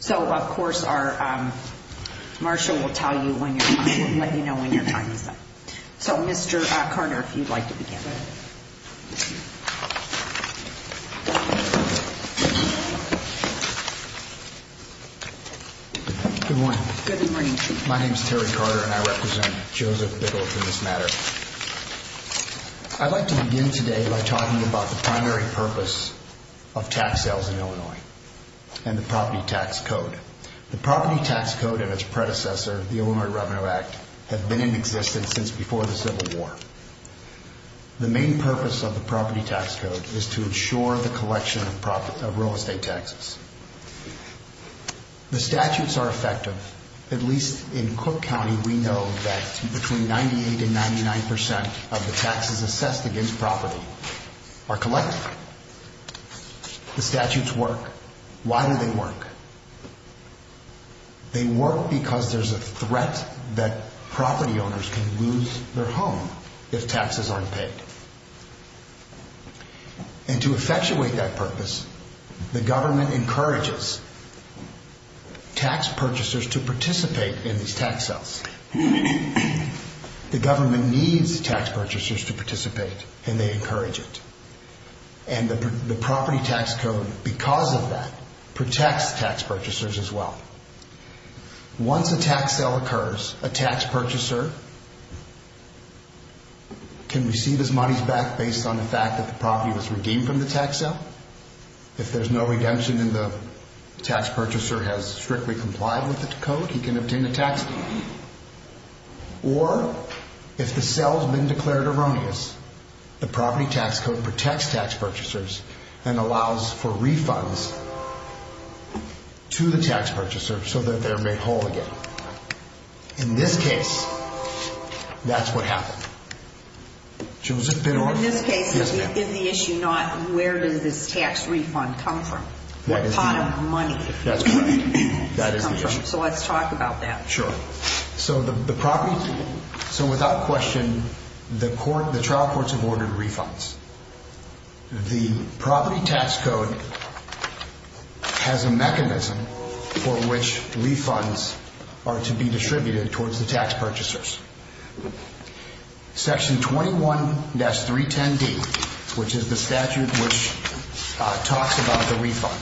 So, of course, our marshal will tell you when your time is up. So, Mr. Carter, if you'd like to begin. Good morning. Good morning, Chief. My name is Terry Carter and I represent Joseph Bittendorf in this matter. I'd like to begin today by talking about the primary purpose of tax sales in Illinois and the Property Tax Code. The Property Tax Code and its predecessor, the Illinois Revenue Act, have been in existence since before the Civil War. The main purpose of the Property Tax Code is to ensure the collection of real estate taxes. The statutes are effective. At least in Cook County, we know that between 98 and 99 percent of the taxes assessed against property are collected. The statutes work. Why do they work? They work because there's a threat that property owners can lose their home if taxes aren't paid. And to effectuate that purpose, the government encourages tax purchasers to participate in these tax sales. The government needs tax purchasers to participate and they encourage it. And the Property Tax Code, because of that, protects tax purchasers as well. Once a tax sale occurs, a tax purchaser can receive his money back based on the fact that the property was redeemed from the tax sale. If there's no redemption and the tax purchaser has strictly complied with the code, he can obtain a tax payment. Or, if the sale has been declared erroneous, the Property Tax Code protects tax purchasers and allows for refunds to the tax purchaser so that they're made whole again. In this case, that's what happened. In this case, is the issue not where does this tax refund come from? That is the issue. Or pot of money? That's correct. That is the issue. So let's talk about that. Sure. So without question, the trial courts have ordered refunds. The Property Tax Code has a mechanism for which refunds are to be distributed towards the tax purchasers. Section 21-310D, which is the statute which talks about the refund.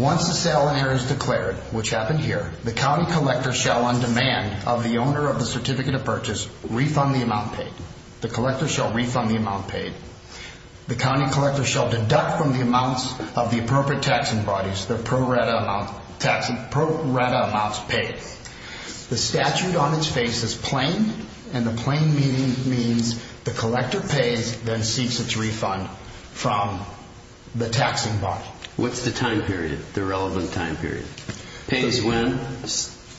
Once the sale and error is declared, which happened here, the county collector shall, on demand of the owner of the certificate of purchase, refund the amount paid. The collector shall refund the amount paid. The county collector shall deduct from the amounts of the appropriate taxing bodies the pro-rata amounts paid. The statute on its face is plain, and the plain meaning means the collector pays, then seeks its refund from the taxing body. What's the time period, the relevant time period? Pays when?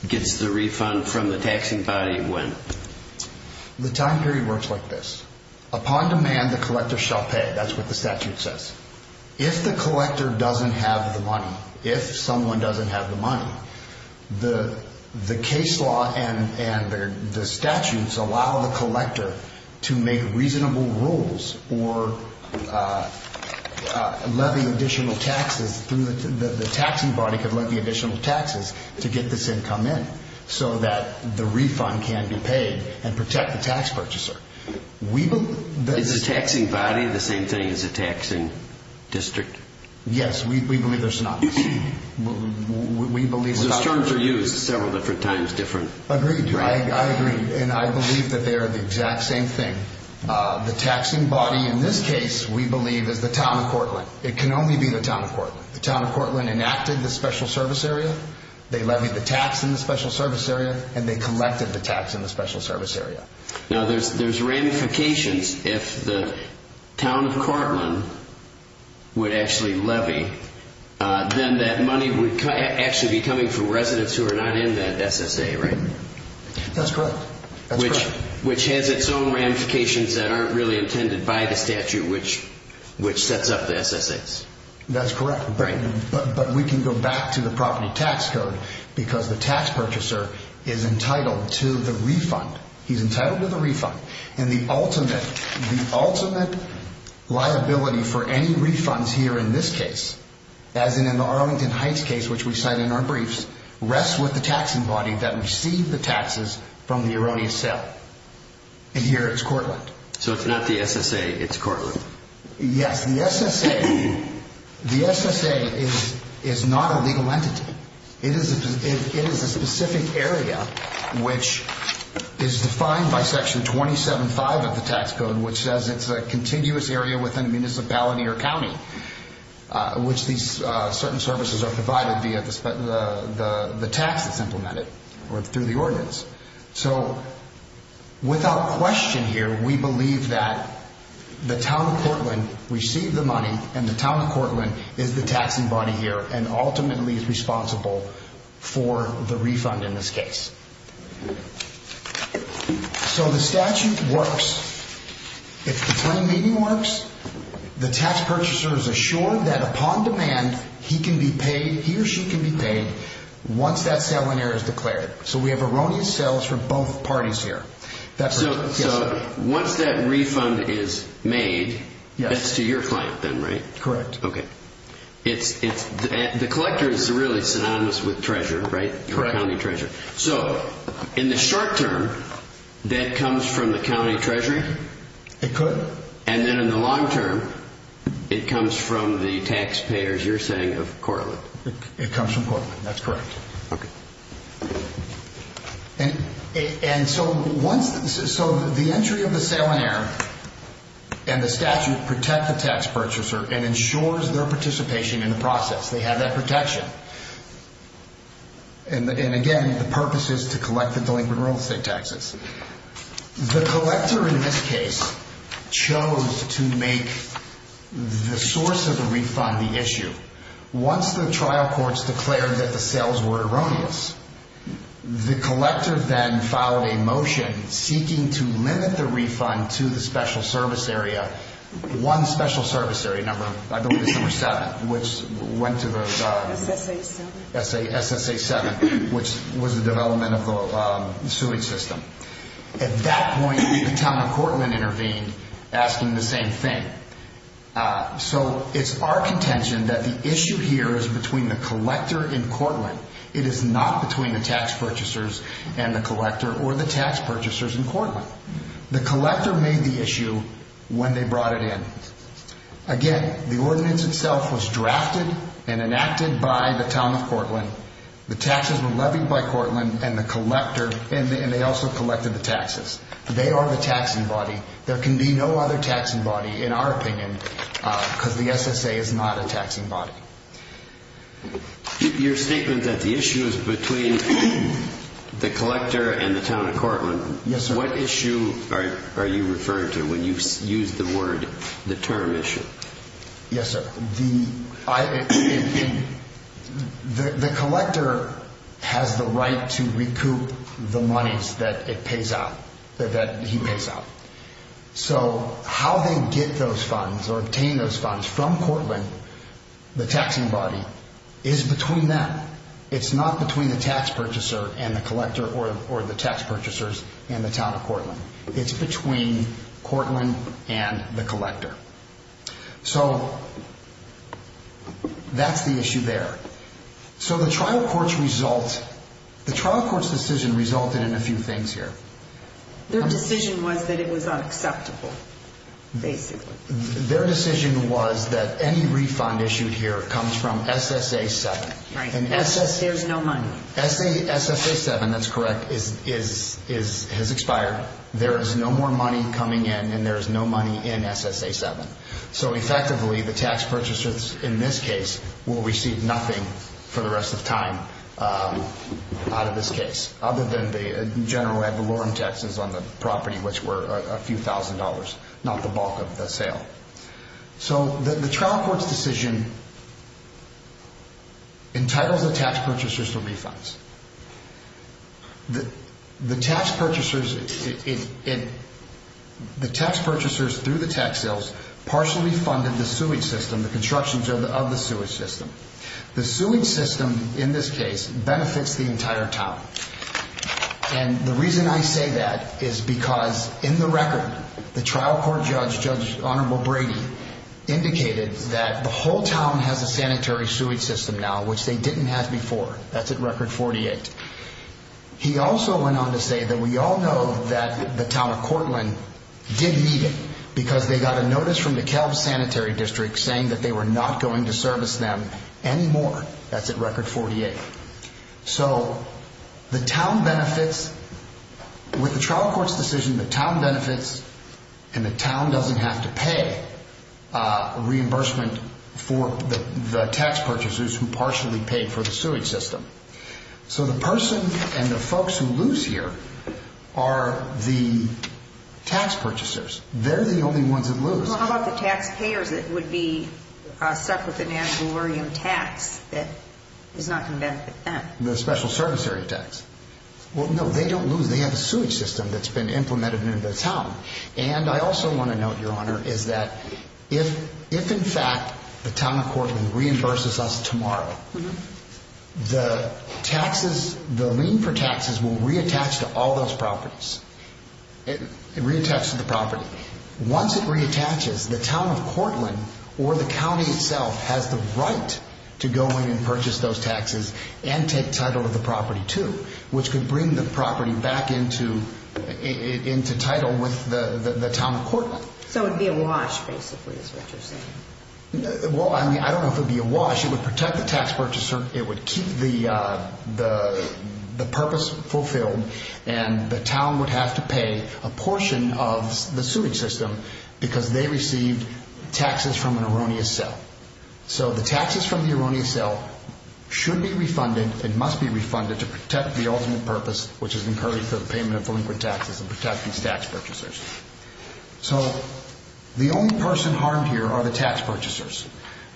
Gets the refund from the taxing body when? The time period works like this. Upon demand, the collector shall pay. That's what the statute says. If the collector doesn't have the money, if someone doesn't have the money, the case law and the statutes allow the collector to make reasonable rules or levy additional taxes. The taxing body could levy additional taxes to get this income in so that the refund can be paid and protect the tax purchaser. Is the taxing body the same thing as the taxing district? Yes, we believe there's not. Those terms are used several different times different. Agreed, I agree, and I believe that they are the exact same thing. The taxing body in this case, we believe, is the town of Cortland. It can only be the town of Cortland. The town of Cortland enacted the special service area, they levied the tax in the special service area, and they collected the tax in the special service area. Now, there's ramifications. If the town of Cortland would actually levy, then that money would actually be coming from residents who are not in that SSA, right? That's correct. Which has its own ramifications that aren't really intended by the statute, which sets up the SSAs. That's correct, but we can go back to the property tax code because the tax purchaser is entitled to the refund. He's entitled to the refund, and the ultimate liability for any refunds here in this case, as in the Arlington Heights case, which we cite in our briefs, rests with the taxing body that received the taxes from the erroneous sale, and here it's Cortland. So it's not the SSA, it's Cortland? Yes, the SSA is not a legal entity. It is a specific area, which is defined by Section 27.5 of the tax code, which says it's a continuous area within a municipality or county, which these certain services are provided via the tax that's implemented or through the ordinance. So without question here, we believe that the town of Cortland received the money, and the town of Cortland is the taxing body here, and ultimately is responsible for the refund in this case. So the statute works. If the claim meeting works, the tax purchaser is assured that upon demand, he or she can be paid once that sale and error is declared. So we have erroneous sales from both parties here. So once that refund is made, that's to your client then, right? Correct. Okay. The collector is really synonymous with treasurer, right? Correct. You're a county treasurer. So in the short term, that comes from the county treasury? It could. And then in the long term, it comes from the taxpayers, you're saying, of Cortland? It comes from Cortland, that's correct. Okay. And so the entry of the sale and error and the statute protect the tax purchaser and ensures their participation in the process. They have that protection. And again, the purpose is to collect the delinquent real estate taxes. The collector in this case chose to make the source of the refund the issue. Once the trial courts declared that the sales were erroneous, the collector then filed a motion seeking to limit the refund to the special service area, one special service area number, I believe it's number seven, which went to the SSA 7, which was the development of the suing system. At that point, the town of Cortland intervened, asking the same thing. So it's our contention that the issue here is between the collector in Cortland. It is not between the tax purchasers and the collector or the tax purchasers in Cortland. The collector made the issue when they brought it in. Again, the ordinance itself was drafted and enacted by the town of Cortland. The taxes were levied by Cortland and the collector, and they also collected the taxes. They are the taxing body. There can be no other taxing body, in our opinion, because the SSA is not a taxing body. Your statement that the issue is between the collector and the town of Cortland. Yes, sir. What issue are you referring to when you use the word the term issue? Yes, sir. The collector has the right to recoup the monies that it pays out, that he pays out. So how they get those funds or obtain those funds from Cortland, the taxing body, is between them. It's not between the tax purchaser and the collector or the tax purchasers and the town of Cortland. It's between Cortland and the collector. So that's the issue there. So the trial court's decision resulted in a few things here. Their decision was that it was unacceptable, basically. Their decision was that any refund issued here comes from SSA 7. Right. There's no money. SSA 7, that's correct, has expired. There is no more money coming in, and there is no money in SSA 7. So effectively, the tax purchasers in this case will receive nothing for the rest of time out of this case, other than the general ad valorem taxes on the property, which were a few thousand dollars, not the bulk of the sale. So the trial court's decision entitles the tax purchasers to refunds. The tax purchasers through the tax sales partially funded the sewage system, the constructions of the sewage system. The sewage system in this case benefits the entire town. And the reason I say that is because in the record, the trial court judge, Judge Honorable Brady, indicated that the whole town has a sanitary sewage system now, which they didn't have before. That's at record 48. He also went on to say that we all know that the town of Cortland did need it, because they got a notice from the Cal Sanitary District saying that they were not going to service them anymore. That's at record 48. So the town benefits. With the trial court's decision, the town benefits, and the town doesn't have to pay reimbursement for the tax purchasers who partially paid for the sewage system. So the person and the folks who lose here are the tax purchasers. They're the only ones that lose. Well, how about the taxpayers that would be stuck with the National Oreum tax that is not going to benefit them? The special service area tax. Well, no, they don't lose. They have a sewage system that's been implemented in the town. And I also want to note, Your Honor, is that if, in fact, the town of Cortland reimburses us tomorrow, the taxes, the lien for taxes will reattach to all those properties. It reattaches to the property. Once it reattaches, the town of Cortland or the county itself has the right to go in and purchase those taxes and take title of the property, too, which could bring the property back into title with the town of Cortland. So it would be a wash, basically, is what you're saying. Well, I mean, I don't know if it would be a wash. It would protect the tax purchaser. It would keep the purpose fulfilled, and the town would have to pay a portion of the sewage system because they received taxes from an erroneous sale. So the taxes from the erroneous sale should be refunded and must be refunded to protect the ultimate purpose, which is incurring for the payment of delinquent taxes and protect these tax purchasers. So the only person harmed here are the tax purchasers.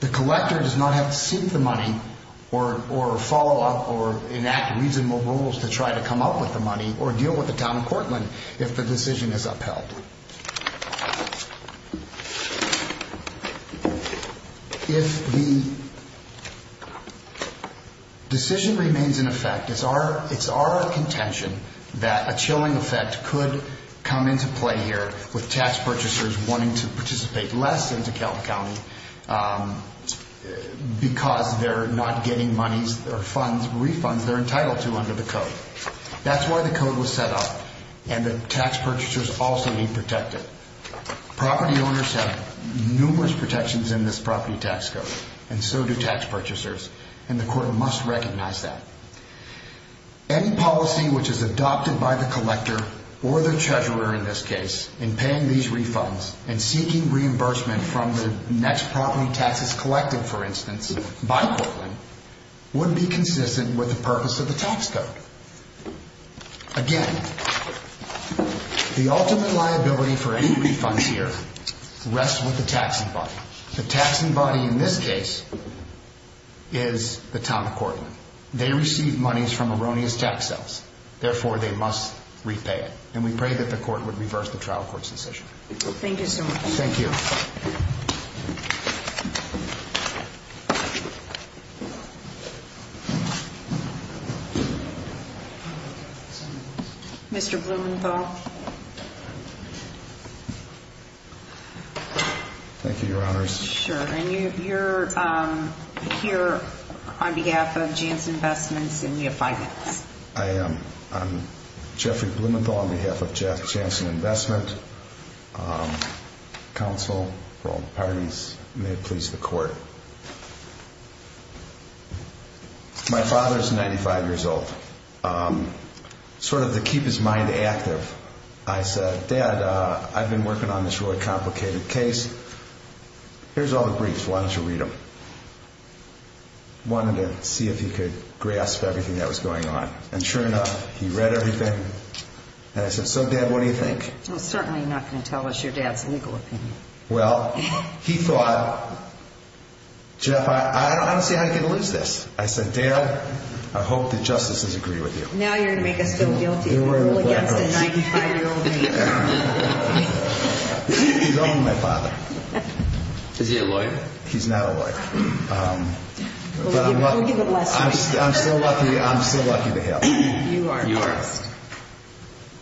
The collector does not have to seek the money or follow up or enact reasonable rules to try to come up with the money or deal with the town of Cortland if the decision is upheld. If the decision remains in effect, it's our contention that a chilling effect could come into play here with tax purchasers wanting to participate less in DeKalb County because they're not getting monies or refunds they're entitled to under the code. That's why the code was set up, and the tax purchasers also need protected. Property owners have numerous protections in this property tax code, and so do tax purchasers, and the court must recognize that. Any policy which is adopted by the collector, or the treasurer in this case, in paying these refunds and seeking reimbursement from the next property taxes collective, for instance, by Cortland, would be consistent with the purpose of the tax code. Again, the ultimate liability for any refunds here rests with the taxing body. The taxing body in this case is the town of Cortland. They receive monies from erroneous tax sales. Therefore, they must repay it, and we pray that the court would reverse the trial court's decision. Thank you so much. Thank you. Mr. Blumenthal. Thank you, Your Honors. Sure. And you're here on behalf of Janssen Investments, and we have five minutes. I am. I'm Jeffrey Blumenthal on behalf of Janssen Investment. Counsel for all parties, may it please the court. My father is 95 years old. Sort of to keep his mind active, I said, Dad, I've been working on this really complicated case. Here's all the briefs. Why don't you read them? I wanted to see if he could grasp everything that was going on. And sure enough, he read everything, and I said, So, Dad, what do you think? He's certainly not going to tell us your dad's legal opinion. Well, he thought, Jeff, I don't see how you're going to lose this. I said, Dad, I hope the justices agree with you. Now you're going to make us feel guilty for a rule against a 95-year-old. He's only my father. Is he a lawyer? He's not a lawyer. We'll give it less. I'm still lucky to have him. You are. You are.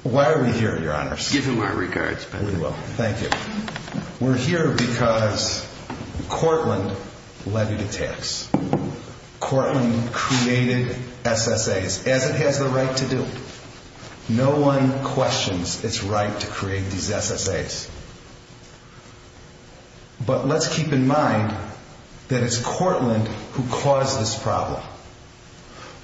Why are we here, Your Honors? Give him our regards. You will. Thank you. We're here because Cortland levied a tax. Cortland created SSAs, as it has the right to do. No one questions its right to create these SSAs. But let's keep in mind that it's Cortland who caused this problem.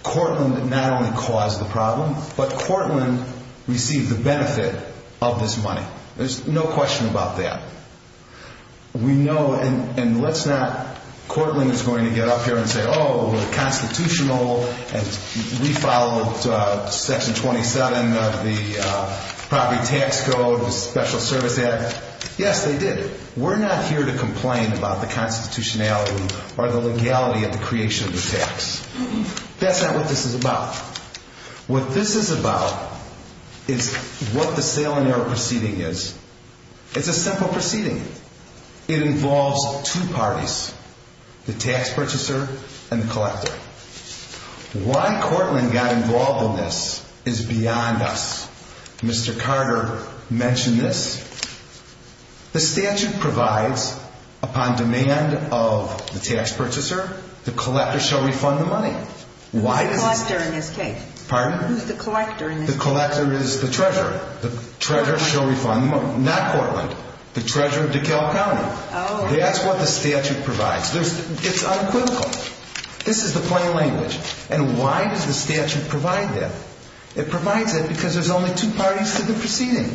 Cortland not only caused the problem, but Cortland received the benefit of this money. There's no question about that. We know, and let's not, Cortland is going to get up here and say, Oh, we're constitutional and we followed Section 27 of the property tax code, the Special Service Act. Yes, they did. We're not here to complain about the constitutionality or the legality of the creation of the tax. That's not what this is about. What this is about is what the sale and error proceeding is. It's a simple proceeding. It involves two parties, the tax purchaser and the collector. Why Cortland got involved in this is beyond us. Mr. Carter mentioned this. The statute provides, upon demand of the tax purchaser, the collector shall refund the money. Who's the collector in this case? Pardon? Who's the collector in this case? The collector is the treasurer. The treasurer shall refund the money. Not Cortland. The treasurer of DeKalb County. That's what the statute provides. It's unquivocal. This is the plain language. And why does the statute provide that? It provides that because there's only two parties to the proceeding.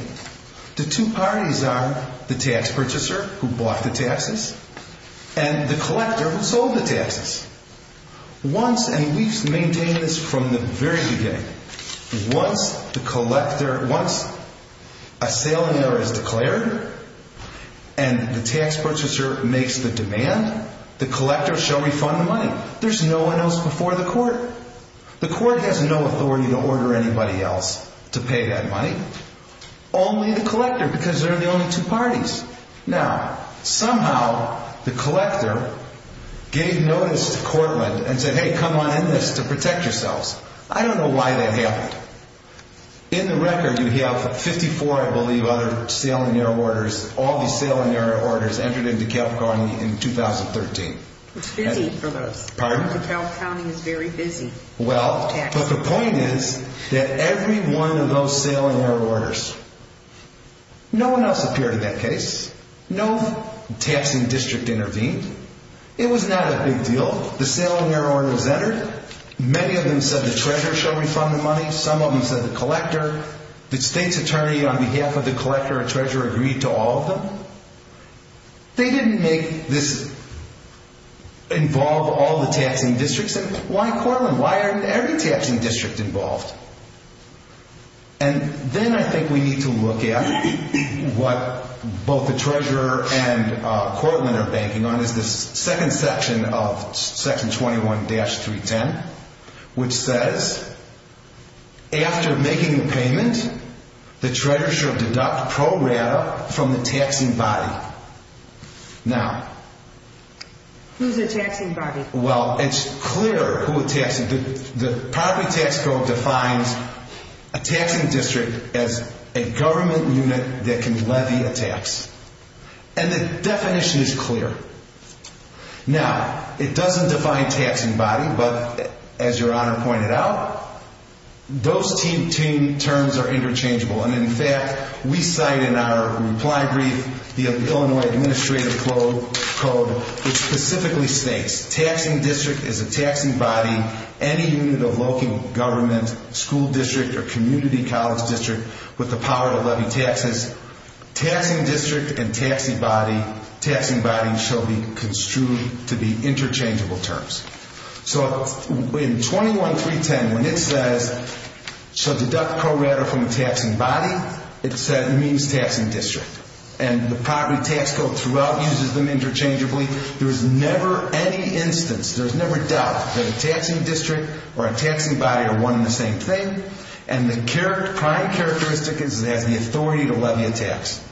The two parties are the tax purchaser who bought the taxes and the collector who sold the taxes. Once, and we've maintained this from the very beginning, once the collector, once a sale and error is declared, and the tax purchaser makes the demand, the collector shall refund the money. There's no one else before the court. The court has no authority to order anybody else to pay that money. Only the collector, because there are only two parties. Now, somehow the collector gave notice to Cortland and said, hey, come on in this to protect yourselves. I don't know why that happened. In the record, you have 54, I believe, other sale and error orders, all these sale and error orders entered into DeKalb County in 2013. It's busy for those. Pardon? DeKalb County is very busy. Well, but the point is that every one of those sale and error orders, no one else appeared in that case. No taxing district intervened. It was not a big deal. The sale and error order was entered. Many of them said the treasurer shall refund the money. Some of them said the collector. The state's attorney on behalf of the collector or treasurer agreed to all of them. They didn't make this involve all the taxing districts. And why, Cortland, why aren't every taxing district involved? And then I think we need to look at what both the treasurer and Cortland are banking on is this second section of section 21-310, which says, after making the payment, the treasurer shall deduct pro rata from the taxing body. Now. Who's the taxing body? Well, it's clear who attacks it. The property tax code defines a taxing district as a government unit that can levy a tax. And the definition is clear. Now, it doesn't define taxing body, but as Your Honor pointed out, those two terms are interchangeable. And in fact, we cite in our reply brief, the Illinois Administrative Code, which specifically states, taxing district is a taxing body, any unit of local government, school district, or community college district with the power to levy taxes. Taxing district and taxing body shall be construed to be interchangeable terms. So in 21-310, when it says, shall deduct pro rata from the taxing body, it means taxing district. And the property tax code throughout uses them interchangeably. There's never any instance, there's never doubt that a taxing district or a taxing body are one and the same thing. And the prime characteristic is it has the authority to levy a tax.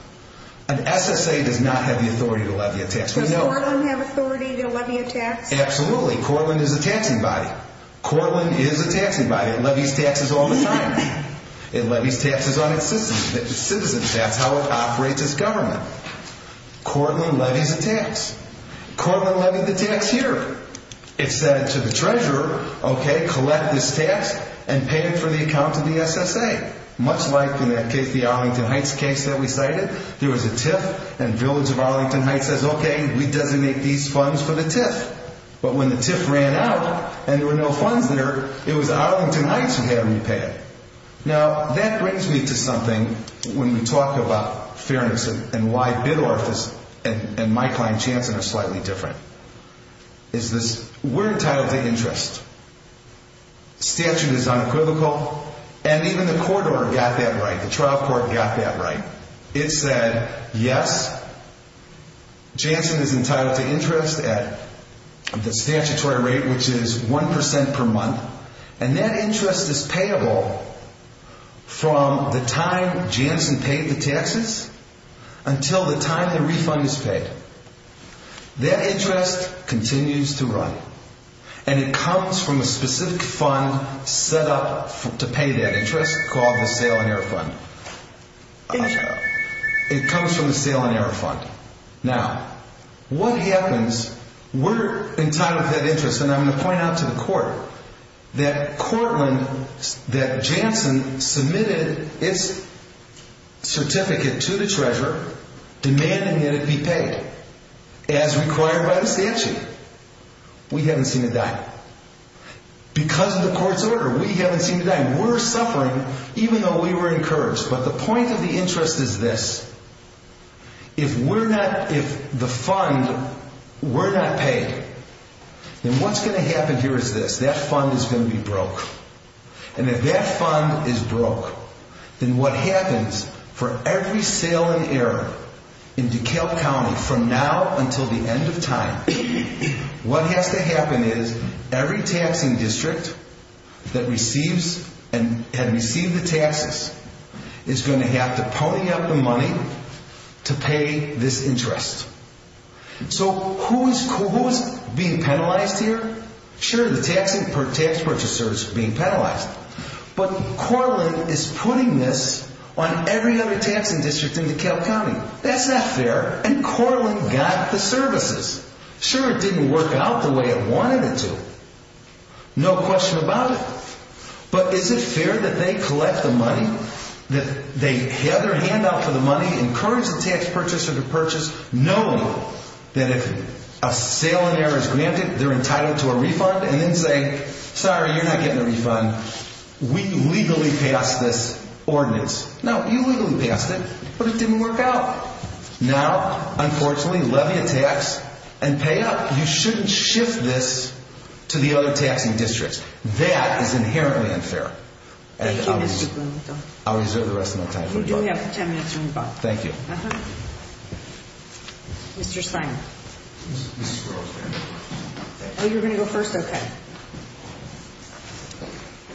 An SSA does not have the authority to levy a tax. Does Cortland have authority to levy a tax? Absolutely. Cortland is a taxing body. Cortland is a taxing body. It levies taxes all the time. It levies taxes on its citizens. That's how it operates as government. Cortland levies a tax. Cortland levied the tax here. It said to the treasurer, okay, collect this tax and pay it for the account to the SSA. Much like in that case, the Arlington Heights case that we cited, there was a TIF and Village of Arlington Heights says, okay, we designate these funds for the TIF. But when the TIF ran out and there were no funds there, it was Arlington Heights who had to repay it. Now, that brings me to something when we talk about fairness and why Bidorf and my client, Chanson, are slightly different. Is this, we're entitled to interest. Statute is unequivocal. And even the court order got that right. The trial court got that right. It said, yes, Chanson is entitled to interest at the statutory rate, which is 1% per month. And that interest is payable from the time Chanson paid the taxes until the time the refund is paid. That interest continues to run. And it comes from a specific fund set up to pay that interest called the Sale and Error Fund. It comes from the Sale and Error Fund. Now, what happens, we're entitled to that interest. And I'm going to point out to the court that Courtland, that Chanson submitted its certificate to the treasurer demanding that it be paid as required by the statute. We haven't seen it die. Because of the court's order, we haven't seen it die. We're suffering even though we were encouraged. But the point of the interest is this. If we're not, if the fund, we're not paid, then what's going to happen here is this. That fund is going to be broke. And if that fund is broke, then what happens for every sale and error in DeKalb County from now until the end of time, what has to happen is every taxing district that receives and had received the taxes is going to have to pony up the money to pay this interest. So who is being penalized here? Sure, the taxing, tax purchasers being penalized. But Courtland is putting this on every other taxing district in DeKalb County. That's not fair. And Courtland got the services. Sure, it didn't work out the way it wanted it to. No question about it. But is it fair that they collect the money, that they have their hand out for the money, encourage the tax purchaser to purchase, knowing that if a sale and error is granted, they're entitled to a refund, and then say, sorry, you're not getting a refund. We legally passed this ordinance. No, you legally passed it, but it didn't work out. Now, unfortunately, levy a tax and pay up. You shouldn't shift this to the other taxing districts. That is inherently unfair. Thank you, Mr. Blumenthal. I'll reserve the rest of my time for the book. You do have 10 minutes on the book. Thank you. Uh-huh. Mr. Steiner. Ms. Strauss, ma'am. Oh, you're going to go first? Okay.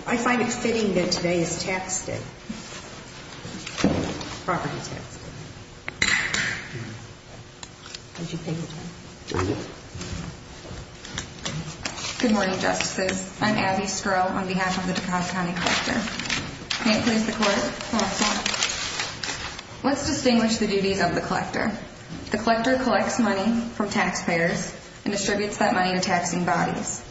I find it fitting that today is tax day. Property tax day. Would you take your time? Thank you. Good morning, Justices. I'm Abby Skrull on behalf of the DuPont County Collector. May it please the Court? Yes, ma'am. Let's distinguish the duties of the Collector. The Collector collects money from taxpayers and distributes that money to taxing bodies.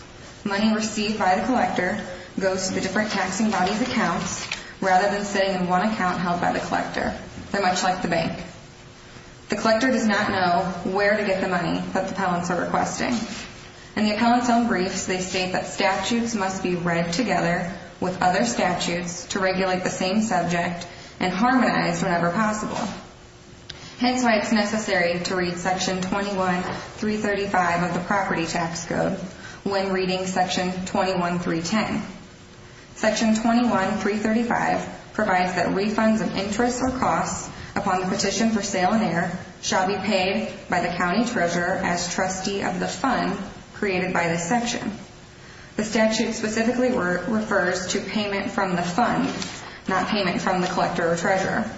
Money received by the Collector goes to the different taxing bodies' accounts rather than sitting in one account held by the Collector. They're much like the bank. The Collector does not know where to get the money that the appellants are requesting. In the appellants' own briefs, they state that statutes must be read together with other statutes to regulate the same subject and harmonize whenever possible. Hence why it's necessary to read Section 21.335 of the Property Tax Code when reading Section 21.310. Section 21.335 provides that refunds of interest or costs upon the petition for sale and heir shall be paid by the County Treasurer as trustee of the fund created by this section. The statute specifically refers to payment from the fund, not payment from the Collector or Treasurer.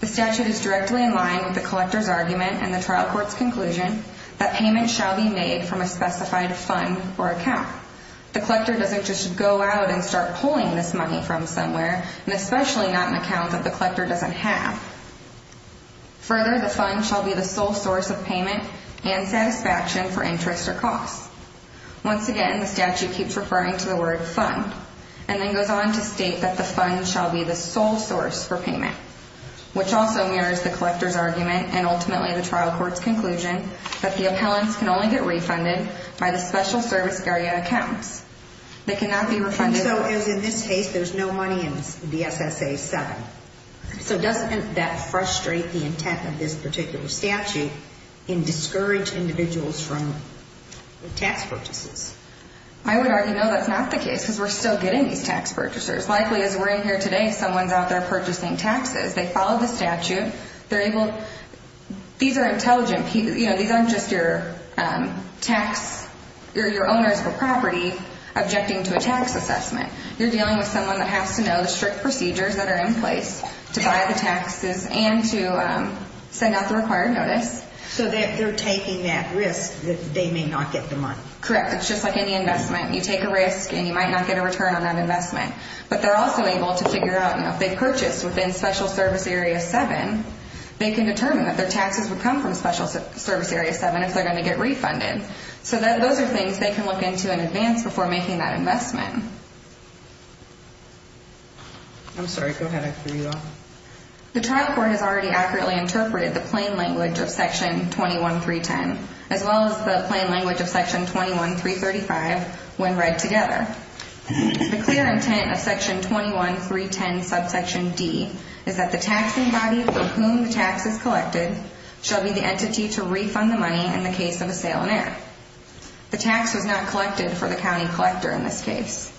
The statute is directly in line with the Collector's argument and the trial court's conclusion that payment shall be made from a specified fund or account. The Collector doesn't just go out and start pulling this money from somewhere, and especially not an account that the Collector doesn't have. Further, the fund shall be the sole source of payment and satisfaction for interest or costs. Once again, the statute keeps referring to the word fund and then goes on to state that the fund shall be the sole source for payment, which also mirrors the Collector's argument and ultimately the trial court's conclusion that the appellants can only get refunded by the special service area accounts. They cannot be refunded... So as in this case, there's no money in the SSA 7. So doesn't that frustrate the intent of this particular statute in discouraging individuals from tax purchases? I would argue no, that's not the case because we're still getting these tax purchasers. Likely as we're in here today, someone's out there purchasing taxes. They follow the statute. They're able... These are intelligent people. You know, these aren't just your tax... You're your owners of a property objecting to a tax assessment. You're dealing with someone that has to know the strict procedures that are in place to buy the taxes and to send out the required notice. So they're taking that risk that they may not get the money. Correct. It's just like any investment. You take a risk and you might not get a return on that investment. But they're also able to figure out, you know, if they purchase within special service area 7, they can determine that their taxes would come from special service area 7 if they're going to get refunded. So those are things they can look into in advance before making that investment. I'm sorry. Go ahead. I threw you off. The trial court has already accurately interpreted the plain language of Section 21.310 as well as the plain language of Section 21.335 when read together. The clear intent of Section 21.310 subsection D is that the taxing body for whom the tax is collected shall be the entity to refund the money in the case of a sale on air. The tax was not collected for the county collector in this case.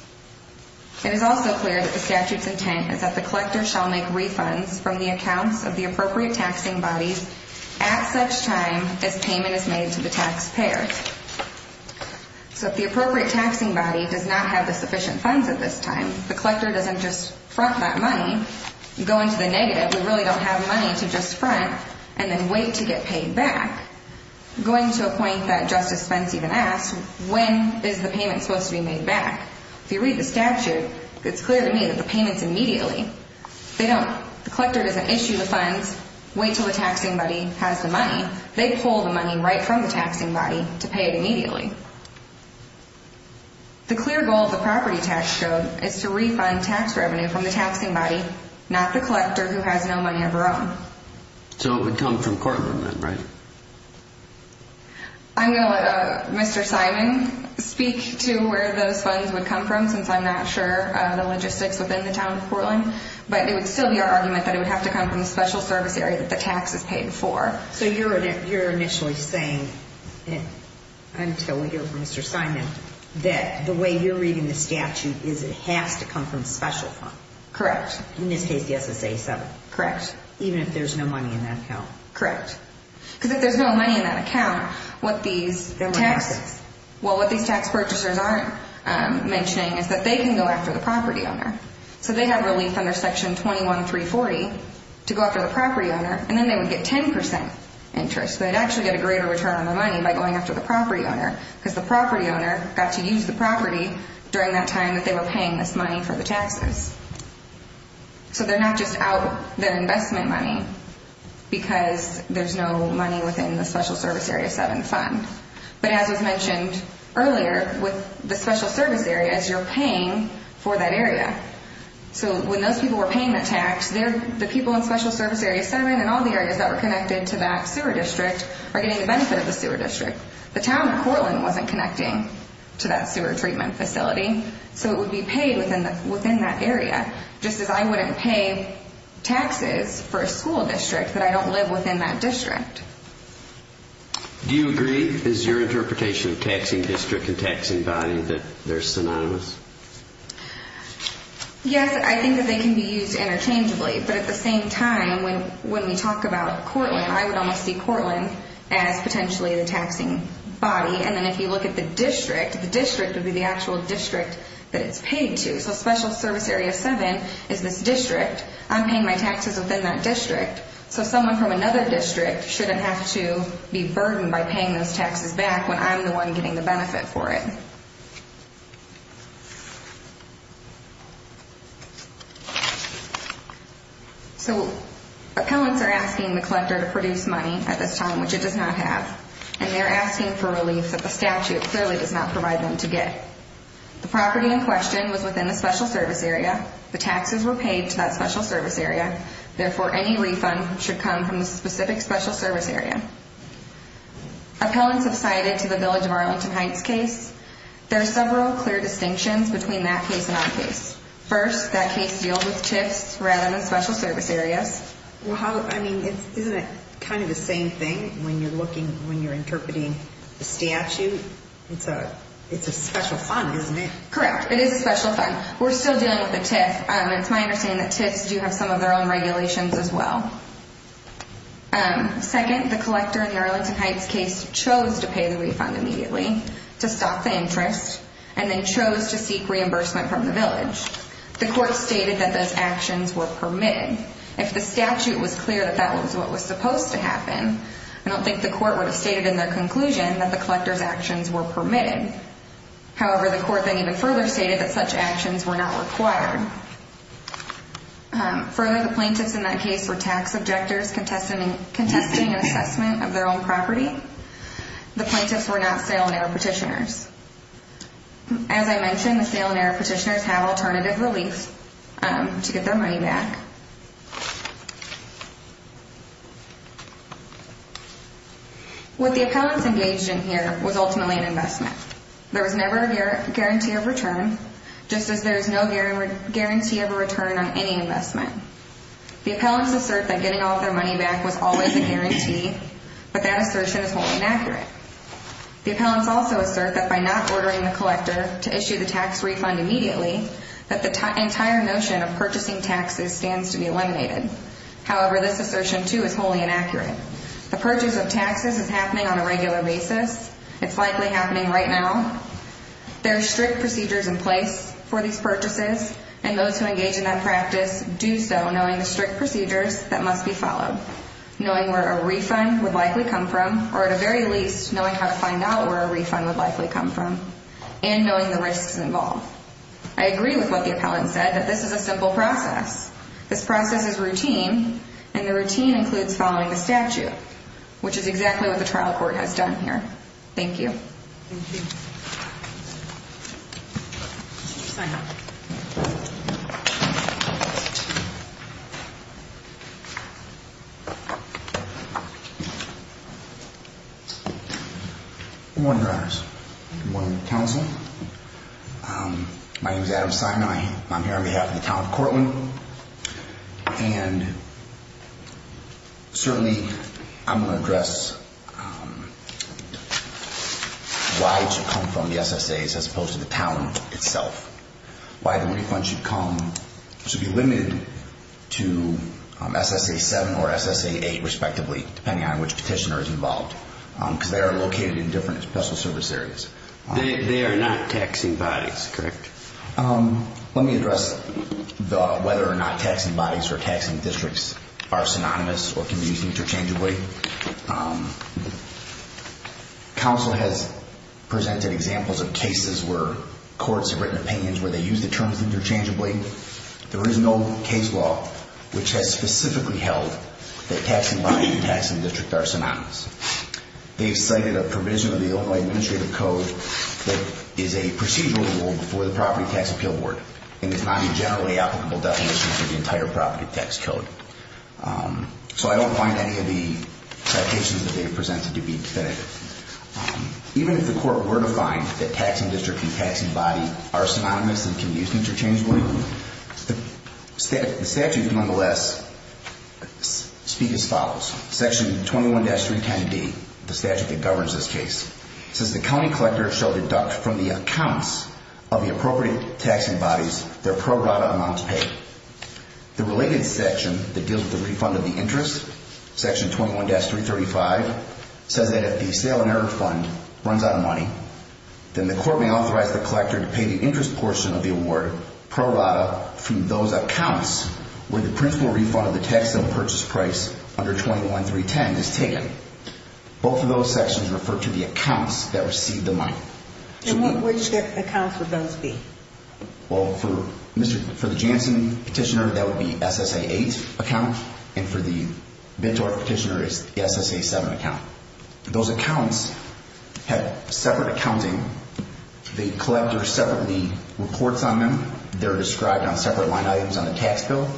It is also clear that the statute's intent is that the collector shall make refunds from the accounts of the appropriate taxing bodies at such time as payment is made to the taxpayer. So if the appropriate taxing body does not have the sufficient funds at this time, the collector doesn't just front that money, go into the negative, we really don't have money to just front, and then wait to get paid back, going to a point that Justice Spence even asked, when is the payment supposed to be made back? If you read the statute, it's clear to me that the payment's immediately. They don't. The collector doesn't issue the funds, wait until the taxing body has the money. They pull the money right from the taxing body to pay it immediately. The clear goal of the property tax code is to refund tax revenue from the taxing body, not the collector who has no money of her own. So it would come from Portland then, right? I'm going to let Mr. Simon speak to where those funds would come from, since I'm not sure the logistics within the town of Portland, but it would still be our argument that it would have to come from the special service area that the tax is paid for. So you're initially saying, until we hear from Mr. Simon, that the way you're reading the statute is it has to come from special funds. Correct. In this case, the SSA 7. Correct. Even if there's no money in that account. Correct. Because if there's no money in that account, what these tax— There were taxes. Well, what these tax purchasers aren't mentioning is that they can go after the property owner. So they have relief under Section 21-340 to go after the property owner, and then they would get 10 percent interest. They'd actually get a greater return on their money by going after the property owner, because the property owner got to use the property during that time that they were paying this money for the taxes. So they're not just out their investment money because there's no money within the Special Service Area 7 fund. But as was mentioned earlier, with the special service areas, you're paying for that area. So when those people were paying the tax, the people in Special Service Area 7 and all the areas that were connected to that sewer district are getting the benefit of the sewer district. The town of Portland wasn't connecting to that sewer treatment facility, so it would be paid within that area, just as I wouldn't pay taxes for a school district that I don't live within that district. Do you agree? Is your interpretation of taxing district and taxing body that they're synonymous? Yes, I think that they can be used interchangeably. But at the same time, when we talk about Portland, I would almost see Portland as potentially the taxing body. And then if you look at the district, the district would be the actual district that it's paid to. So Special Service Area 7 is this district. I'm paying my taxes within that district. So someone from another district shouldn't have to be burdened by paying those taxes back when I'm the one getting the benefit for it. So appellants are asking the collector to produce money at this time, which it does not have. And they're asking for relief that the statute clearly does not provide them to get. The property in question was within the Special Service Area. The taxes were paid to that Special Service Area. Therefore, any refund should come from the specific Special Service Area. Appellants have cited to the Village of Arlington Heights case. There are several clear distinctions between that case and our case. First, that case deals with TIFs rather than Special Service Areas. Well, I mean, isn't it kind of the same thing when you're looking, when you're interpreting the statute? It's a special fund, isn't it? Correct. It is a special fund. We're still dealing with the TIF. It's my understanding that TIFs do have some of their own regulations as well. Second, the collector in the Arlington Heights case chose to pay the refund immediately to stop the interest and then chose to seek reimbursement from the Village. The court stated that those actions were permitted. If the statute was clear that that was what was supposed to happen, I don't think the court would have stated in their conclusion that the collector's actions were permitted. However, the court then even further stated that such actions were not required. Further, the plaintiffs in that case were tax objectors contesting an assessment of their own property. The plaintiffs were not sale and error petitioners. As I mentioned, the sale and error petitioners have alternative relief to get their money back. What the appellants engaged in here was ultimately an investment. There was never a guarantee of return, just as there is no guarantee of a return on any investment. The appellants assert that getting all their money back was always a guarantee, but that assertion is wholly inaccurate. The appellants also assert that by not ordering the collector to issue the tax refund immediately, that the entire notion of purchasing taxes stands to be eliminated. However, this assertion, too, is wholly inaccurate. The purchase of taxes is happening on a regular basis. It's likely happening right now. There are strict procedures in place for these purchases, and those who engage in that practice do so knowing the strict procedures that must be followed, knowing where a refund would likely come from, or at the very least, knowing how to find out where a refund would likely come from, and knowing the risks involved. I agree with what the appellant said, that this is a simple process. This process is routine, and the routine includes following the statute, which is exactly what the trial court has done here. Thank you. Thank you. Good morning, Your Honors. Good morning, Counsel. My name is Adam Sinai. I'm here on behalf of the town of Cortland, and certainly I'm going to address why it should come from the SSAs as opposed to the town itself. Why the refund should come, should be limited to SSA 7 or SSA 8, respectively, depending on which petitioner is involved, because they are located in different special service areas. They are not taxing bodies, correct? Let me address whether or not taxing bodies or taxing districts are synonymous or can be used interchangeably. Counsel has presented examples of cases where courts have written opinions where they use the terms interchangeably. There is no case law which has specifically held that taxing bodies and taxing districts are synonymous. They've cited a provision of the Omaha Administrative Code that is a procedural rule before the Property Tax Appeal Board and is not a generally applicable definition for the entire property tax code. So I don't find any of the citations that they've presented to be definitive. Even if the court were to find that taxing district and taxing body are synonymous and can be used interchangeably, the statutes, nonetheless, speak as follows. Section 21-310D, the statute that governs this case, says the county collector shall deduct from the accounts of the appropriate taxing bodies their pro rata amounts paid. The related section that deals with the refund of the interest, Section 21-335, says that if the sale and error fund runs out of money, then the court may authorize the collector to pay the interest portion of the award pro rata from those accounts where the principal refund of the tax and purchase price under 21-310 is taken. Both of those sections refer to the accounts that received the money. And which accounts would those be? Well, for the Jansen petitioner, that would be SSA-8 account, and for the Bidtorf petitioner, it's the SSA-7 account. Those accounts have separate accounting. The collector separately reports on them. They're described on separate line items on the tax bill.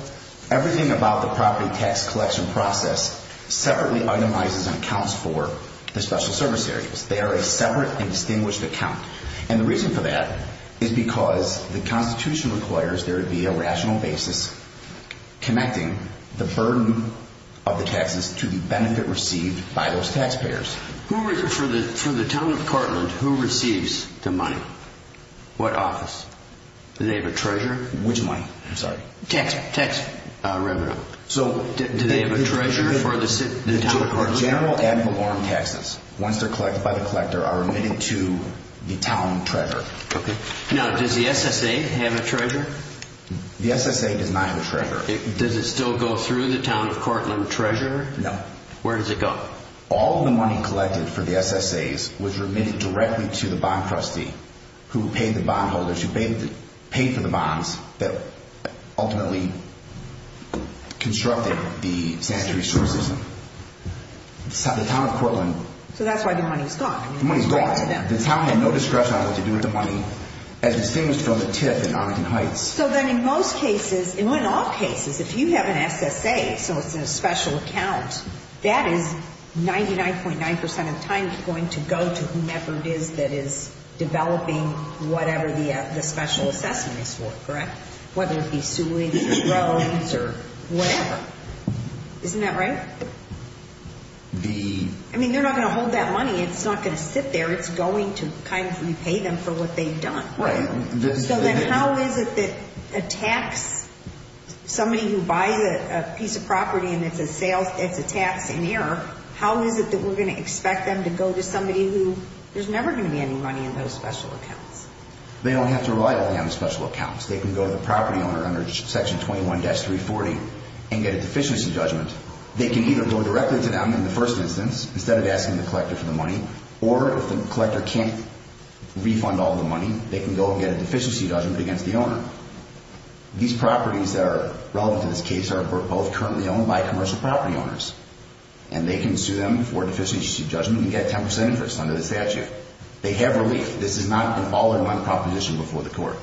Everything about the property tax collection process separately itemizes and accounts for the special service areas. They are a separate and distinguished account. And the reason for that is because the Constitution requires there to be a rational basis connecting the burden of the taxes to the benefit received by those taxpayers. For the town of Cartland, who receives the money? What office? Do they have a treasurer? Which money? I'm sorry. Tax revenue. Do they have a treasurer for the town of Cartland? General and belonging taxes, once they're collected by the collector, are remitted to the town treasurer. Now, does the SSA have a treasurer? The SSA does not have a treasurer. Does it still go through the town of Cartland treasurer? No. Where does it go? All the money collected for the SSAs was remitted directly to the bond trustee who paid the bondholders, who paid for the bonds, that ultimately constructed the sanitary services. The town of Cartland... So that's why the money's gone. The money's gone. The town had no discretion on what to do with the money, as distinguished from the TIF in Arlington Heights. So then in most cases, in all cases, if you have an SSA, so it's a special account, that is 99.9% of the time going to go to whomever it is that is developing whatever the special assessment is for, correct? Whether it be sewage or roads or whatever. Isn't that right? I mean, they're not going to hold that money. It's not going to sit there. It's going to kind of repay them for what they've done. Right. So then how is it that a tax, somebody who buys a piece of property and it's a tax in error, how is it that we're going to expect them to go to somebody who there's never going to be any money in those special accounts? They don't have to rely on the special accounts. They can go to the property owner under Section 21-340 and get a deficiency judgment. They can either go directly to them in the first instance, instead of asking the collector for the money, or if the collector can't refund all the money, they can go and get a deficiency judgment against the owner. These properties that are relevant to this case are both currently owned by commercial property owners, and they can sue them for deficiency judgment and get a 10% interest under the statute. They have relief. This is not an all-or-none proposition before the court.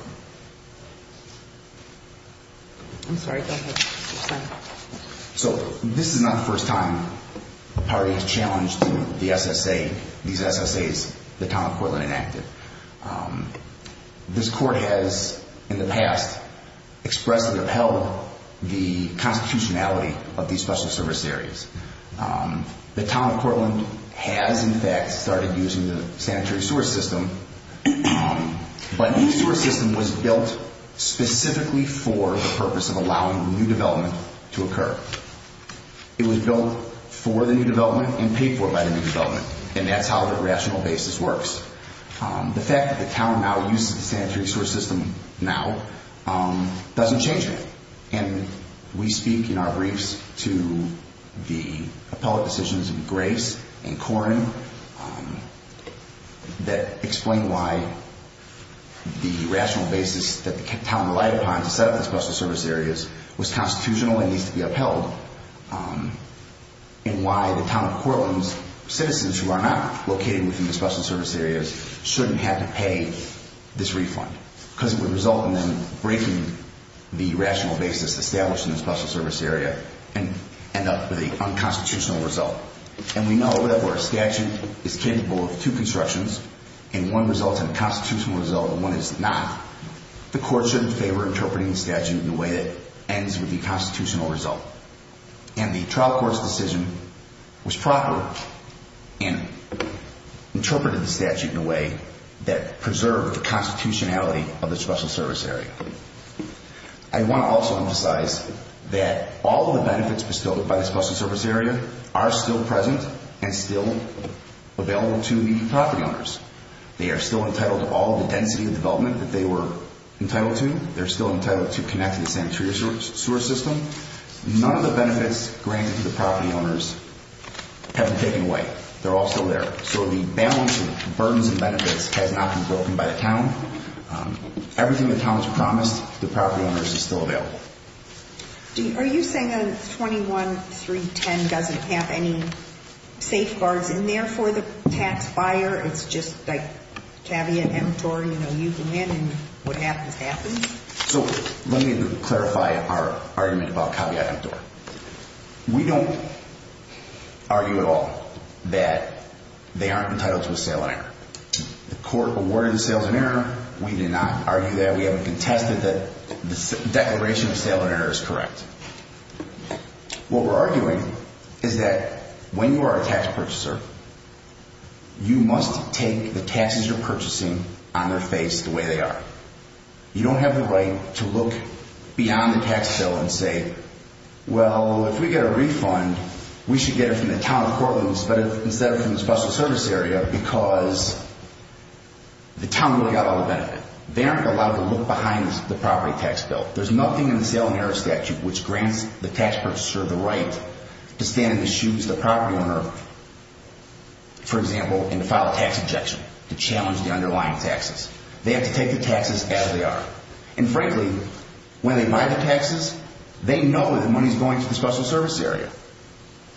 I'm sorry. Go ahead. So this is not the first time the party has challenged the SSA, these SSAs, the Town of Cortland Enacted. This court has, in the past, expressly upheld the constitutionality of these special service areas. The Town of Cortland has, in fact, started using the sanitary sewer system, but this sewer system was built specifically for the purpose of allowing new development to occur. It was built for the new development and paid for by the new development, and that's how the rational basis works. The fact that the Town now uses the sanitary sewer system now doesn't change that, and we speak in our briefs to the appellate decisions of Grace and Corrin that explain why the rational basis that the Town relied upon to set up the special service areas was constitutional and needs to be upheld and why the Town of Cortland's citizens who are not located within the special service areas shouldn't have to pay this refund because it would result in them breaking the rational basis established in the special service area and end up with an unconstitutional result. And we know that where a statute is capable of two constructions and one results in a constitutional result and one is not, the court shouldn't favor interpreting the statute in a way that ends with the constitutional result. And the trial court's decision was proper and interpreted the statute in a way that preserved the constitutionality of the special service area. I want to also emphasize that all of the benefits bestowed by the special service area are still present and still available to the property owners. They are still entitled to all the density of development that they were entitled to. They're still entitled to connect to the sanitary sewer system. None of the benefits granted to the property owners have been taken away. They're all still there. So the balance of burdens and benefits has not been broken by the Town. Everything the Town has promised the property owners is still available. Are you saying that 21-310 doesn't have any safeguards in there for the tax buyer? It's just like caveat emptor, you know, you come in and what happens, happens? So let me clarify our argument about caveat emptor. We don't argue at all that they aren't entitled to a sale and enter. The court awarded the sales and enter. We did not argue that. We haven't contested that the declaration of sale and enter is correct. What we're arguing is that when you are a tax purchaser, you must take the taxes you're purchasing on their face the way they are. You don't have the right to look beyond the tax bill and say, well, if we get a refund, we should get it from the Town of Portland instead of from the special service area because the Town really got all the benefit. They aren't allowed to look behind the property tax bill. There's nothing in the sale and enter statute which grants the tax purchaser the right to stand in the shoes of the property owner, for example, and to file a tax objection to challenge the underlying taxes. They have to take the taxes as they are. And frankly, when they buy the taxes, they know that the money is going to the special service area.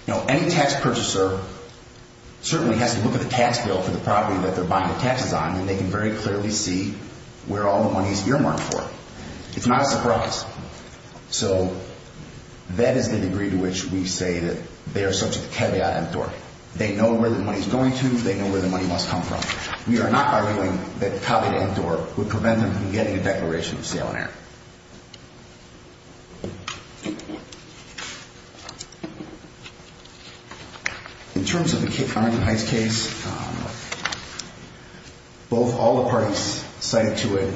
Now, any tax purchaser certainly has to look at the tax bill for the property that they're buying the taxes on and they can very clearly see where all the money is earmarked for. It's not a surprise. So that is the degree to which we say that they are subject to caveat emptor. They know where the money is going to. They know where the money must come from. We are not arguing that caveat emptor would prevent them from getting a declaration of sale and error. In terms of the Arlington Heights case, all the parties cited to it,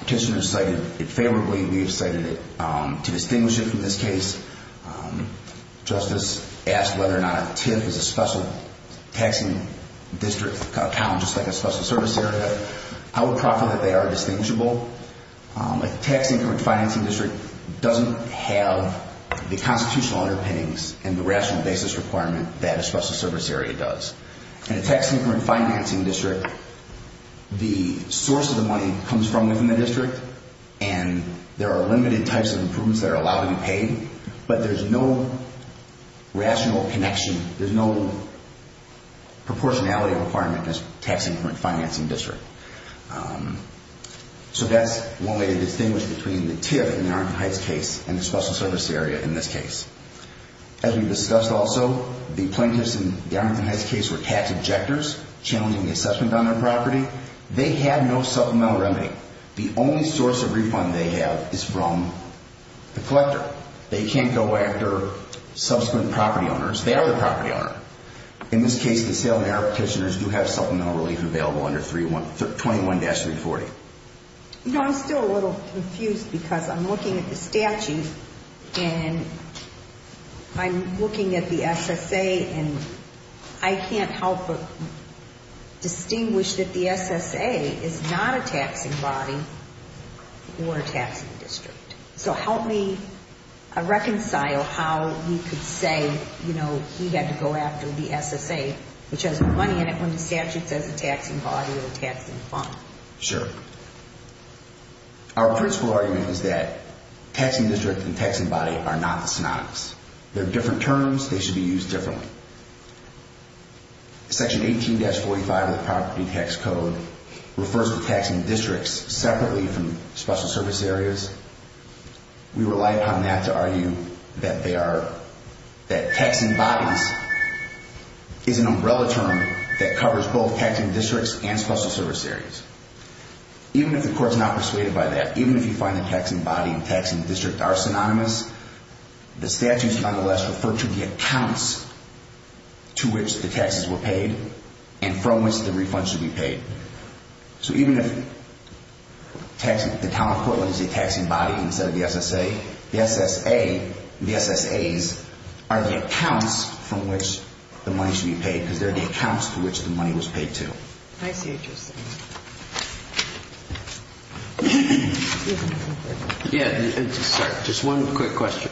petitioners cited it favorably. We have cited it to distinguish it from this case. Justice asked whether or not a TIF is a special taxing district account, just like a special service area. I would proffer that they are distinguishable. A tax increment financing district doesn't have the constitutional underpinnings and the rational basis requirement that a special service area does. In a tax increment financing district, the source of the money comes from within the district and there are limited types of improvements that are allowed to be paid, but there's no rational connection. There's no proportionality requirement in a tax increment financing district. So that's one way to distinguish between the TIF in the Arlington Heights case and the special service area in this case. As we discussed also, the plaintiffs in the Arlington Heights case were tax objectors challenging the assessment on their property. They have no supplemental remedy. The only source of refund they have is from the collector. They can't go after subsequent property owners. They are the property owner. In this case, the sale and error petitioners do have supplemental relief available under 21-340. I'm still a little confused because I'm looking at the statute and I'm looking at the SSA and I can't help but distinguish that the SSA is not a taxing body or a taxing district. So help me reconcile how you could say, you know, he had to go after the SSA, which has money in it when the statute says a taxing body or a taxing fund. Sure. Our principle argument is that taxing district and taxing body are not the synonyms. They're different terms. They should be used differently. Section 18-45 of the property tax code refers to taxing districts separately from special service areas. We rely upon that to argue that they are, that taxing bodies is an umbrella term that covers both taxing districts and special service areas. Even if the court's not persuaded by that, even if you find that taxing body and taxing district are synonymous, the statutes nonetheless refer to the accounts to which the taxes were paid and from which the refund should be paid. So even if the town of Portland is a taxing body instead of the SSA, the SSA, the SSAs are the accounts from which the money should be paid because they're the accounts to which the money was paid to. I see what you're saying. Yeah, sorry, just one quick question.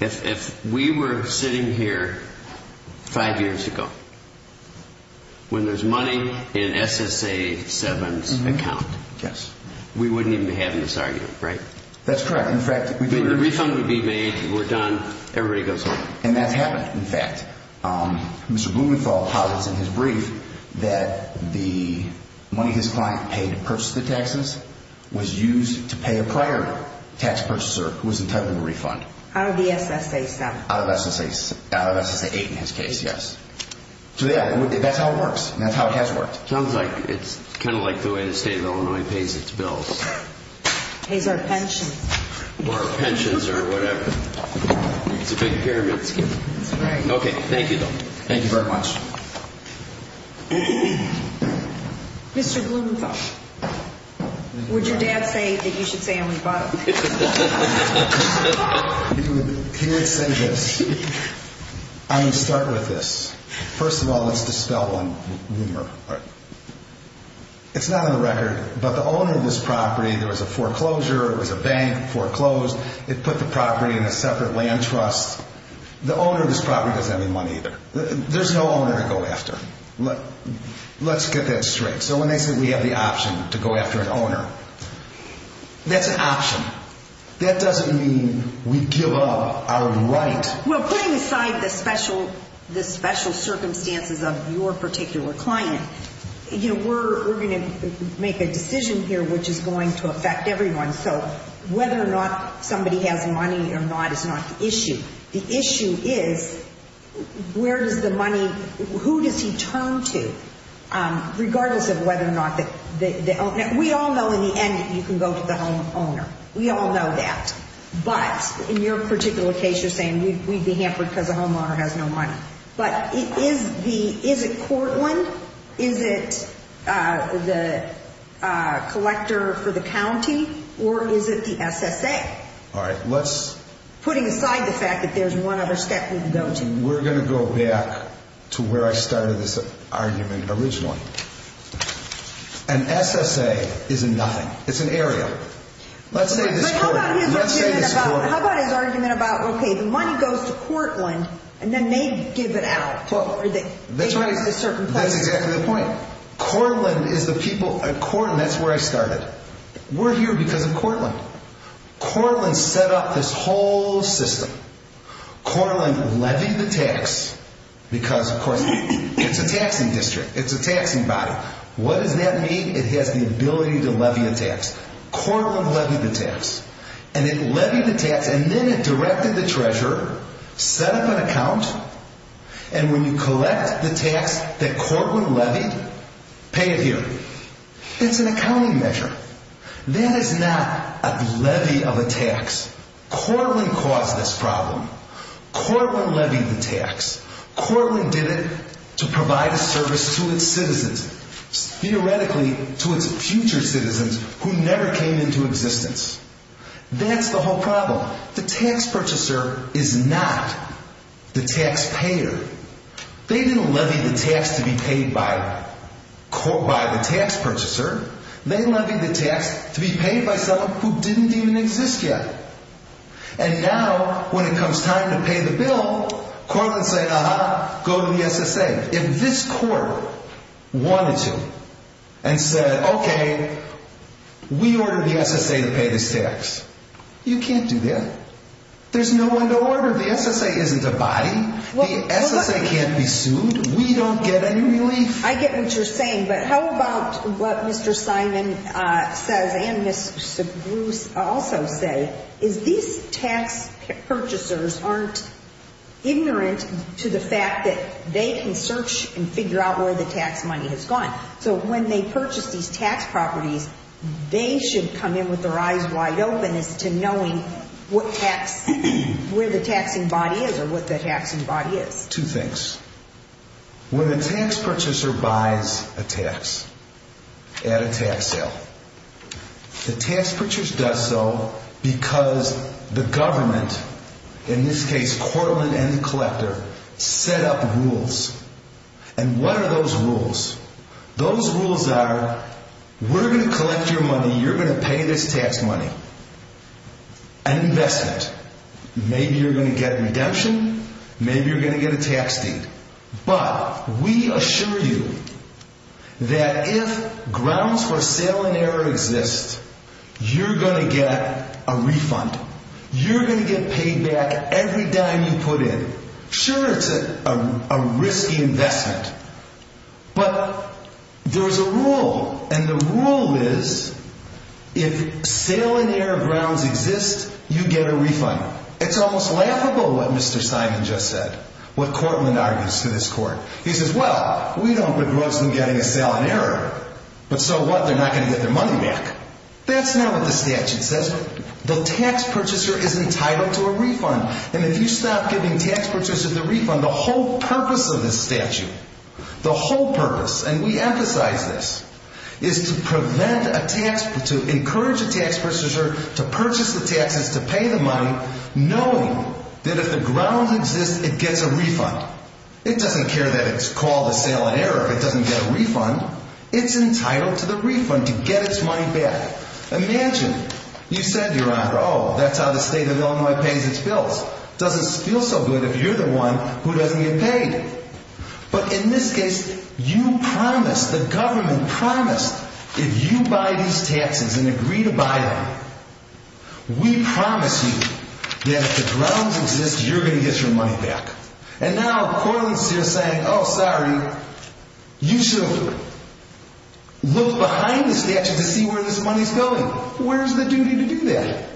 If we were sitting here five years ago when there's money in SSA 7's account, we wouldn't even be having this argument, right? That's correct. The refund would be made, we're done, everybody goes home. And that's happened. In fact, Mr. Blumenthal posits in his brief that the money his client paid to purchase the taxes was used to pay a prior tax purchaser who was entitled to a refund. Out of the SSA 7. Out of SSA 8 in his case, yes. So yeah, that's how it works. That's how it has worked. Sounds like it's kind of like the way the state of Illinois pays its bills. Pays our pensions. Or our pensions or whatever. It's a big pyramid scheme. That's right. Okay, thank you though. Thank you very much. Mr. Blumenthal, would your dad say that you should stay on the bottom? He would say this. I'm going to start with this. First of all, let's dispel one rumor. It's not on the record, but the owner of this property, there was a foreclosure, it was a bank foreclosed, it put the property in a separate land trust. The owner of this property doesn't have any money either. There's no owner to go after. Let's get that straight. So when they say we have the option to go after an owner, that's an option. That doesn't mean we give up our right. Well, putting aside the special circumstances of your particular client, we're going to make a decision here which is going to affect everyone. So whether or not somebody has money or not is not the issue. The issue is where does the money, who does he turn to, regardless of whether or not the owner. We all know in the end that you can go to the homeowner. We all know that. But in your particular case, you're saying we'd be hampered because the homeowner has no money. But is it Cortland? Is it the collector for the county? Or is it the SSA? All right. Putting aside the fact that there's one other step we can go to. We're going to go back to where I started this argument originally. An SSA is a nothing. It's an area. Let's say this court. But how about his argument about, okay, the money goes to Cortland, and then they give it out. That's right. They give it to certain places. That's exactly the point. Cortland is the people at Cortland. That's where I started. We're here because of Cortland. Cortland set up this whole system. Cortland levied the tax because, of course, it's a taxing district. It's a taxing body. What does that mean? It has the ability to levy a tax. Cortland levied the tax. And it levied the tax, and then it directed the treasurer, set up an account, and when you collect the tax that Cortland levied, pay it here. It's an accounting measure. That is not a levy of a tax. Cortland caused this problem. Cortland levied the tax. Cortland did it to provide a service to its citizens, theoretically to its future citizens who never came into existence. That's the whole problem. The tax purchaser is not the taxpayer. They didn't levy the tax to be paid by the tax purchaser. They levied the tax to be paid by someone who didn't even exist yet. And now, when it comes time to pay the bill, Cortland said, uh-huh, go to the SSA. If this court wanted to and said, okay, we ordered the SSA to pay this tax, you can't do that. There's no one to order. The SSA isn't a body. The SSA can't be sued. We don't get any relief. I get what you're saying. But how about what Mr. Simon says and Ms. Segrus also say, is these tax purchasers aren't ignorant to the fact that they can search and figure out where the tax money has gone. So when they purchase these tax properties, they should come in with their eyes wide open as to knowing what tax, where the taxing body is or what the taxing body is. Two things. When a tax purchaser buys a tax at a tax sale, the tax purchaser does so because the government, in this case, Cortland and the collector, set up rules. And what are those rules? Those rules are, we're going to collect your money. You're going to pay this tax money. An investment. Maybe you're going to get redemption. Maybe you're going to get a tax deed. But we assure you that if grounds for sale and error exist, you're going to get a refund. You're going to get paid back every dime you put in. Sure, it's a risky investment. But there's a rule, and the rule is, if sale and error grounds exist, you get a refund. It's almost laughable what Mr. Simon just said, what Cortland argues to this court. He says, well, we don't begrudge them getting a sale and error. But so what? They're not going to get their money back. That's not what the statute says. The tax purchaser is entitled to a refund. And if you stop giving tax purchasers a refund, the whole purpose of this statute, the whole purpose, and we emphasize this, is to encourage a tax purchaser to purchase the taxes to pay the money, knowing that if the grounds exist, it gets a refund. It doesn't care that it's called a sale and error if it doesn't get a refund. It's entitled to the refund to get its money back. Imagine you said, Your Honor, oh, that's how the state of Illinois pays its bills. It doesn't feel so good if you're the one who doesn't get paid. But in this case, you promised, the government promised, if you buy these taxes and agree to buy them, we promise you that if the grounds exist, you're going to get your money back. And now the court is saying, oh, sorry, you should look behind the statute to see where this money is going. Where's the duty to do that?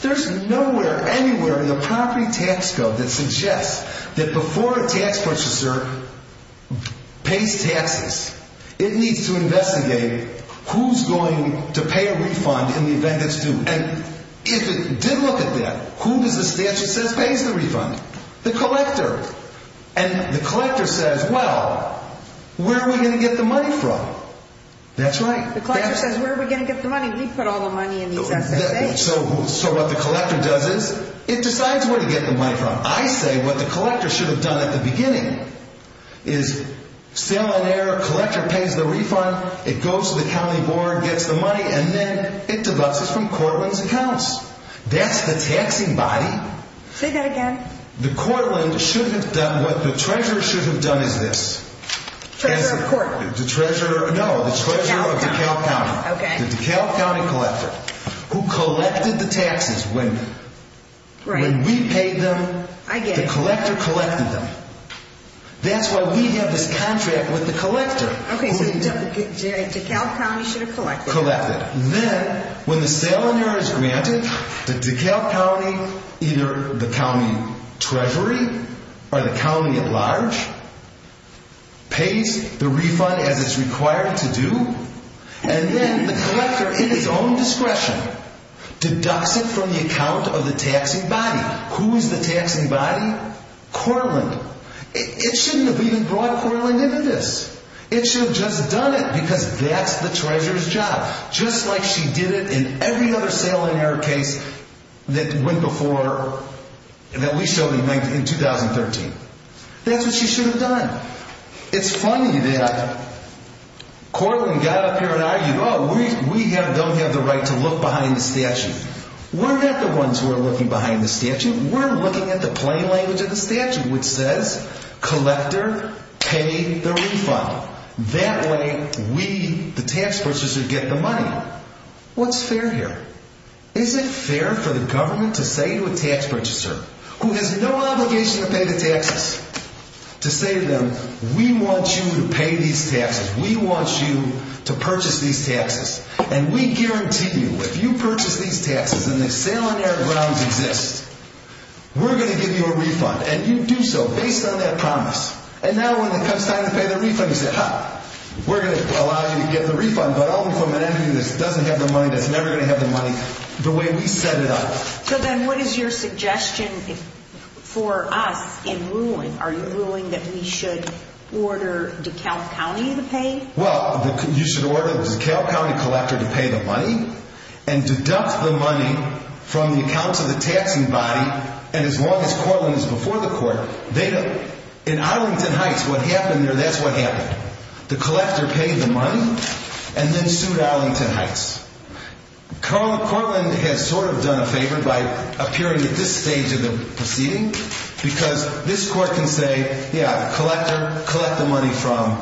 There's nowhere anywhere in the property tax code that suggests that before a tax purchaser pays taxes, it needs to investigate who's going to pay a refund in the event it's due. And if it did look at that, who does the statute says pays the refund? The collector. And the collector says, well, where are we going to get the money from? That's right. The collector says, where are we going to get the money? We put all the money in these assets. So what the collector does is, it decides where to get the money from. I say what the collector should have done at the beginning is sale and error. Collector pays the refund. It goes to the county board, gets the money, and then it debuts it from Cortland's accounts. That's the taxing body. Say that again. The Cortland should have done what the treasurer should have done is this. Treasurer of Cortland. No, the treasurer of DeKalb County. Okay. The DeKalb County collector who collected the taxes when we paid them. I get it. And the collector collected them. That's why we have this contract with the collector. Okay, so DeKalb County should have collected. Collected. Then, when the sale and error is granted, the DeKalb County, either the county treasury or the county at large, pays the refund as it's required to do, and then the collector, in his own discretion, deducts it from the account of the taxing body. Who is the taxing body? Cortland. It shouldn't have even brought Cortland into this. It should have just done it because that's the treasurer's job, just like she did it in every other sale and error case that went before, that we showed in 2013. That's what she should have done. It's funny that Cortland got up here and argued, oh, we don't have the right to look behind the statue. We're not the ones who are looking behind the statue. We're looking at the plain language of the statute, which says collector pay the refund. That way we, the tax purchaser, get the money. What's fair here? Is it fair for the government to say to a tax purchaser, who has no obligation to pay the taxes, to say to them, we want you to pay these taxes, we want you to purchase these taxes, and we guarantee you if you purchase these taxes and the sale and error grounds exist, we're going to give you a refund. And you do so based on that promise. And now when it comes time to pay the refund, you say, ha, we're going to allow you to get the refund. But all the equipment and everything that doesn't have the money, that's never going to have the money, the way we set it up. So then what is your suggestion for us in ruling? Are you ruling that we should order DeKalb County to pay? Well, you should order the DeKalb County collector to pay the money and deduct the money from the accounts of the taxing body. And as long as Cortland is before the court, in Arlington Heights, what happened there, that's what happened. The collector paid the money and then sued Arlington Heights. Cortland has sort of done a favor by appearing at this stage of the proceeding because this court can say, yeah, the collector, collect the money from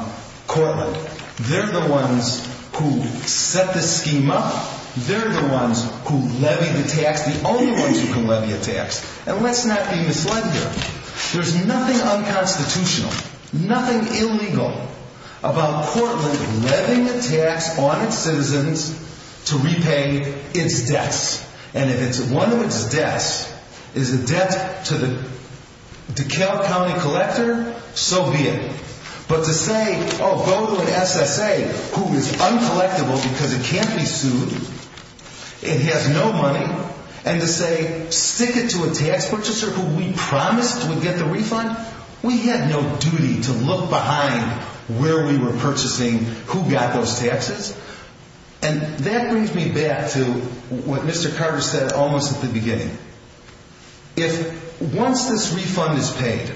Cortland. They're the ones who set this scheme up. They're the ones who levy the tax, the only ones who can levy a tax. And let's not be misled here. There's nothing unconstitutional, nothing illegal, about Cortland levying a tax on its citizens to repay its debts. And if one of its debts is a debt to the DeKalb County collector, so be it. But to say, oh, go to an SSA who is uncollectible because it can't be sued, it has no money, and to say stick it to a tax purchaser who we promised would get the refund, we had no duty to look behind where we were purchasing who got those taxes. And that brings me back to what Mr. Carter said almost at the beginning. If once this refund is paid,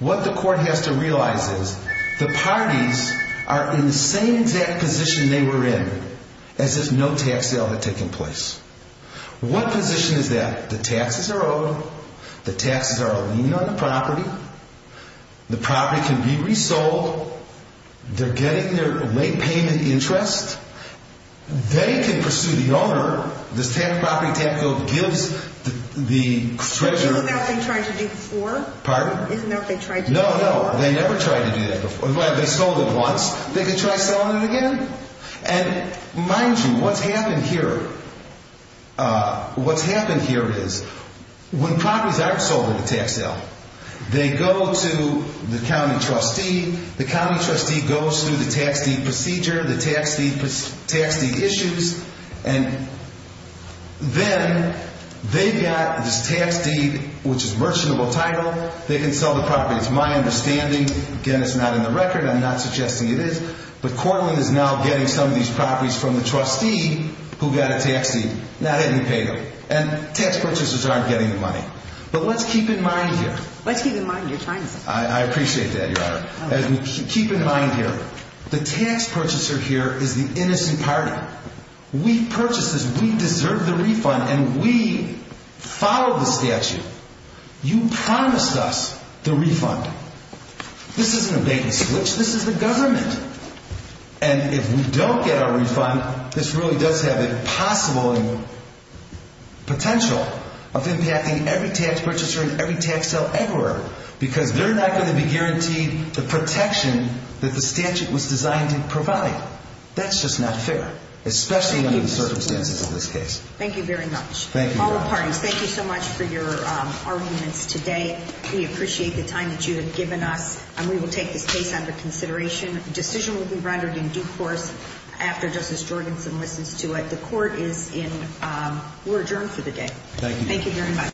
what the court has to realize is the parties are in the same exact position they were in as if no tax sale had taken place. What position is that? The taxes are owed, the taxes are alleged on the property, the property can be resold, they're getting their late payment interest, they can pursue the owner, this property tax bill gives the treasurer... Isn't that what they tried to do before? Pardon? Isn't that what they tried to do before? No, no, they never tried to do that before. They sold it once, they could try selling it again. And mind you, what's happened here, what's happened here is when properties aren't sold at a tax sale, they go to the county trustee, the county trustee goes through the tax deed procedure, the tax deed issues, and then they've got this tax deed, which is merchantable title, they can sell the property. It's my understanding, again, it's not in the record, I'm not suggesting it is, but Cortland is now getting some of these properties from the trustee who got a tax deed. Now, that didn't pay them. And tax purchasers aren't getting the money. But let's keep in mind here... Let's keep in mind, you're trying something. I appreciate that, Your Honor. Keep in mind here, the tax purchaser here is the innocent party. We purchased this, we deserve the refund, and we followed the statute. You promised us the refund. This isn't a bank switch, this is the government. And if we don't get our refund, this really does have the possible potential of impacting every tax purchaser and every tax sale ever, because they're not going to be guaranteed the protection that the statute was designed to provide. That's just not fair, especially under the circumstances of this case. Thank you very much. Thank you, Your Honor. All the parties, thank you so much for your arguments today. We appreciate the time that you have given us, and we will take this case under consideration. A decision will be rendered in due course after Justice Jorgenson listens to it. The court is in. We're adjourned for the day. Thank you. Thank you very much.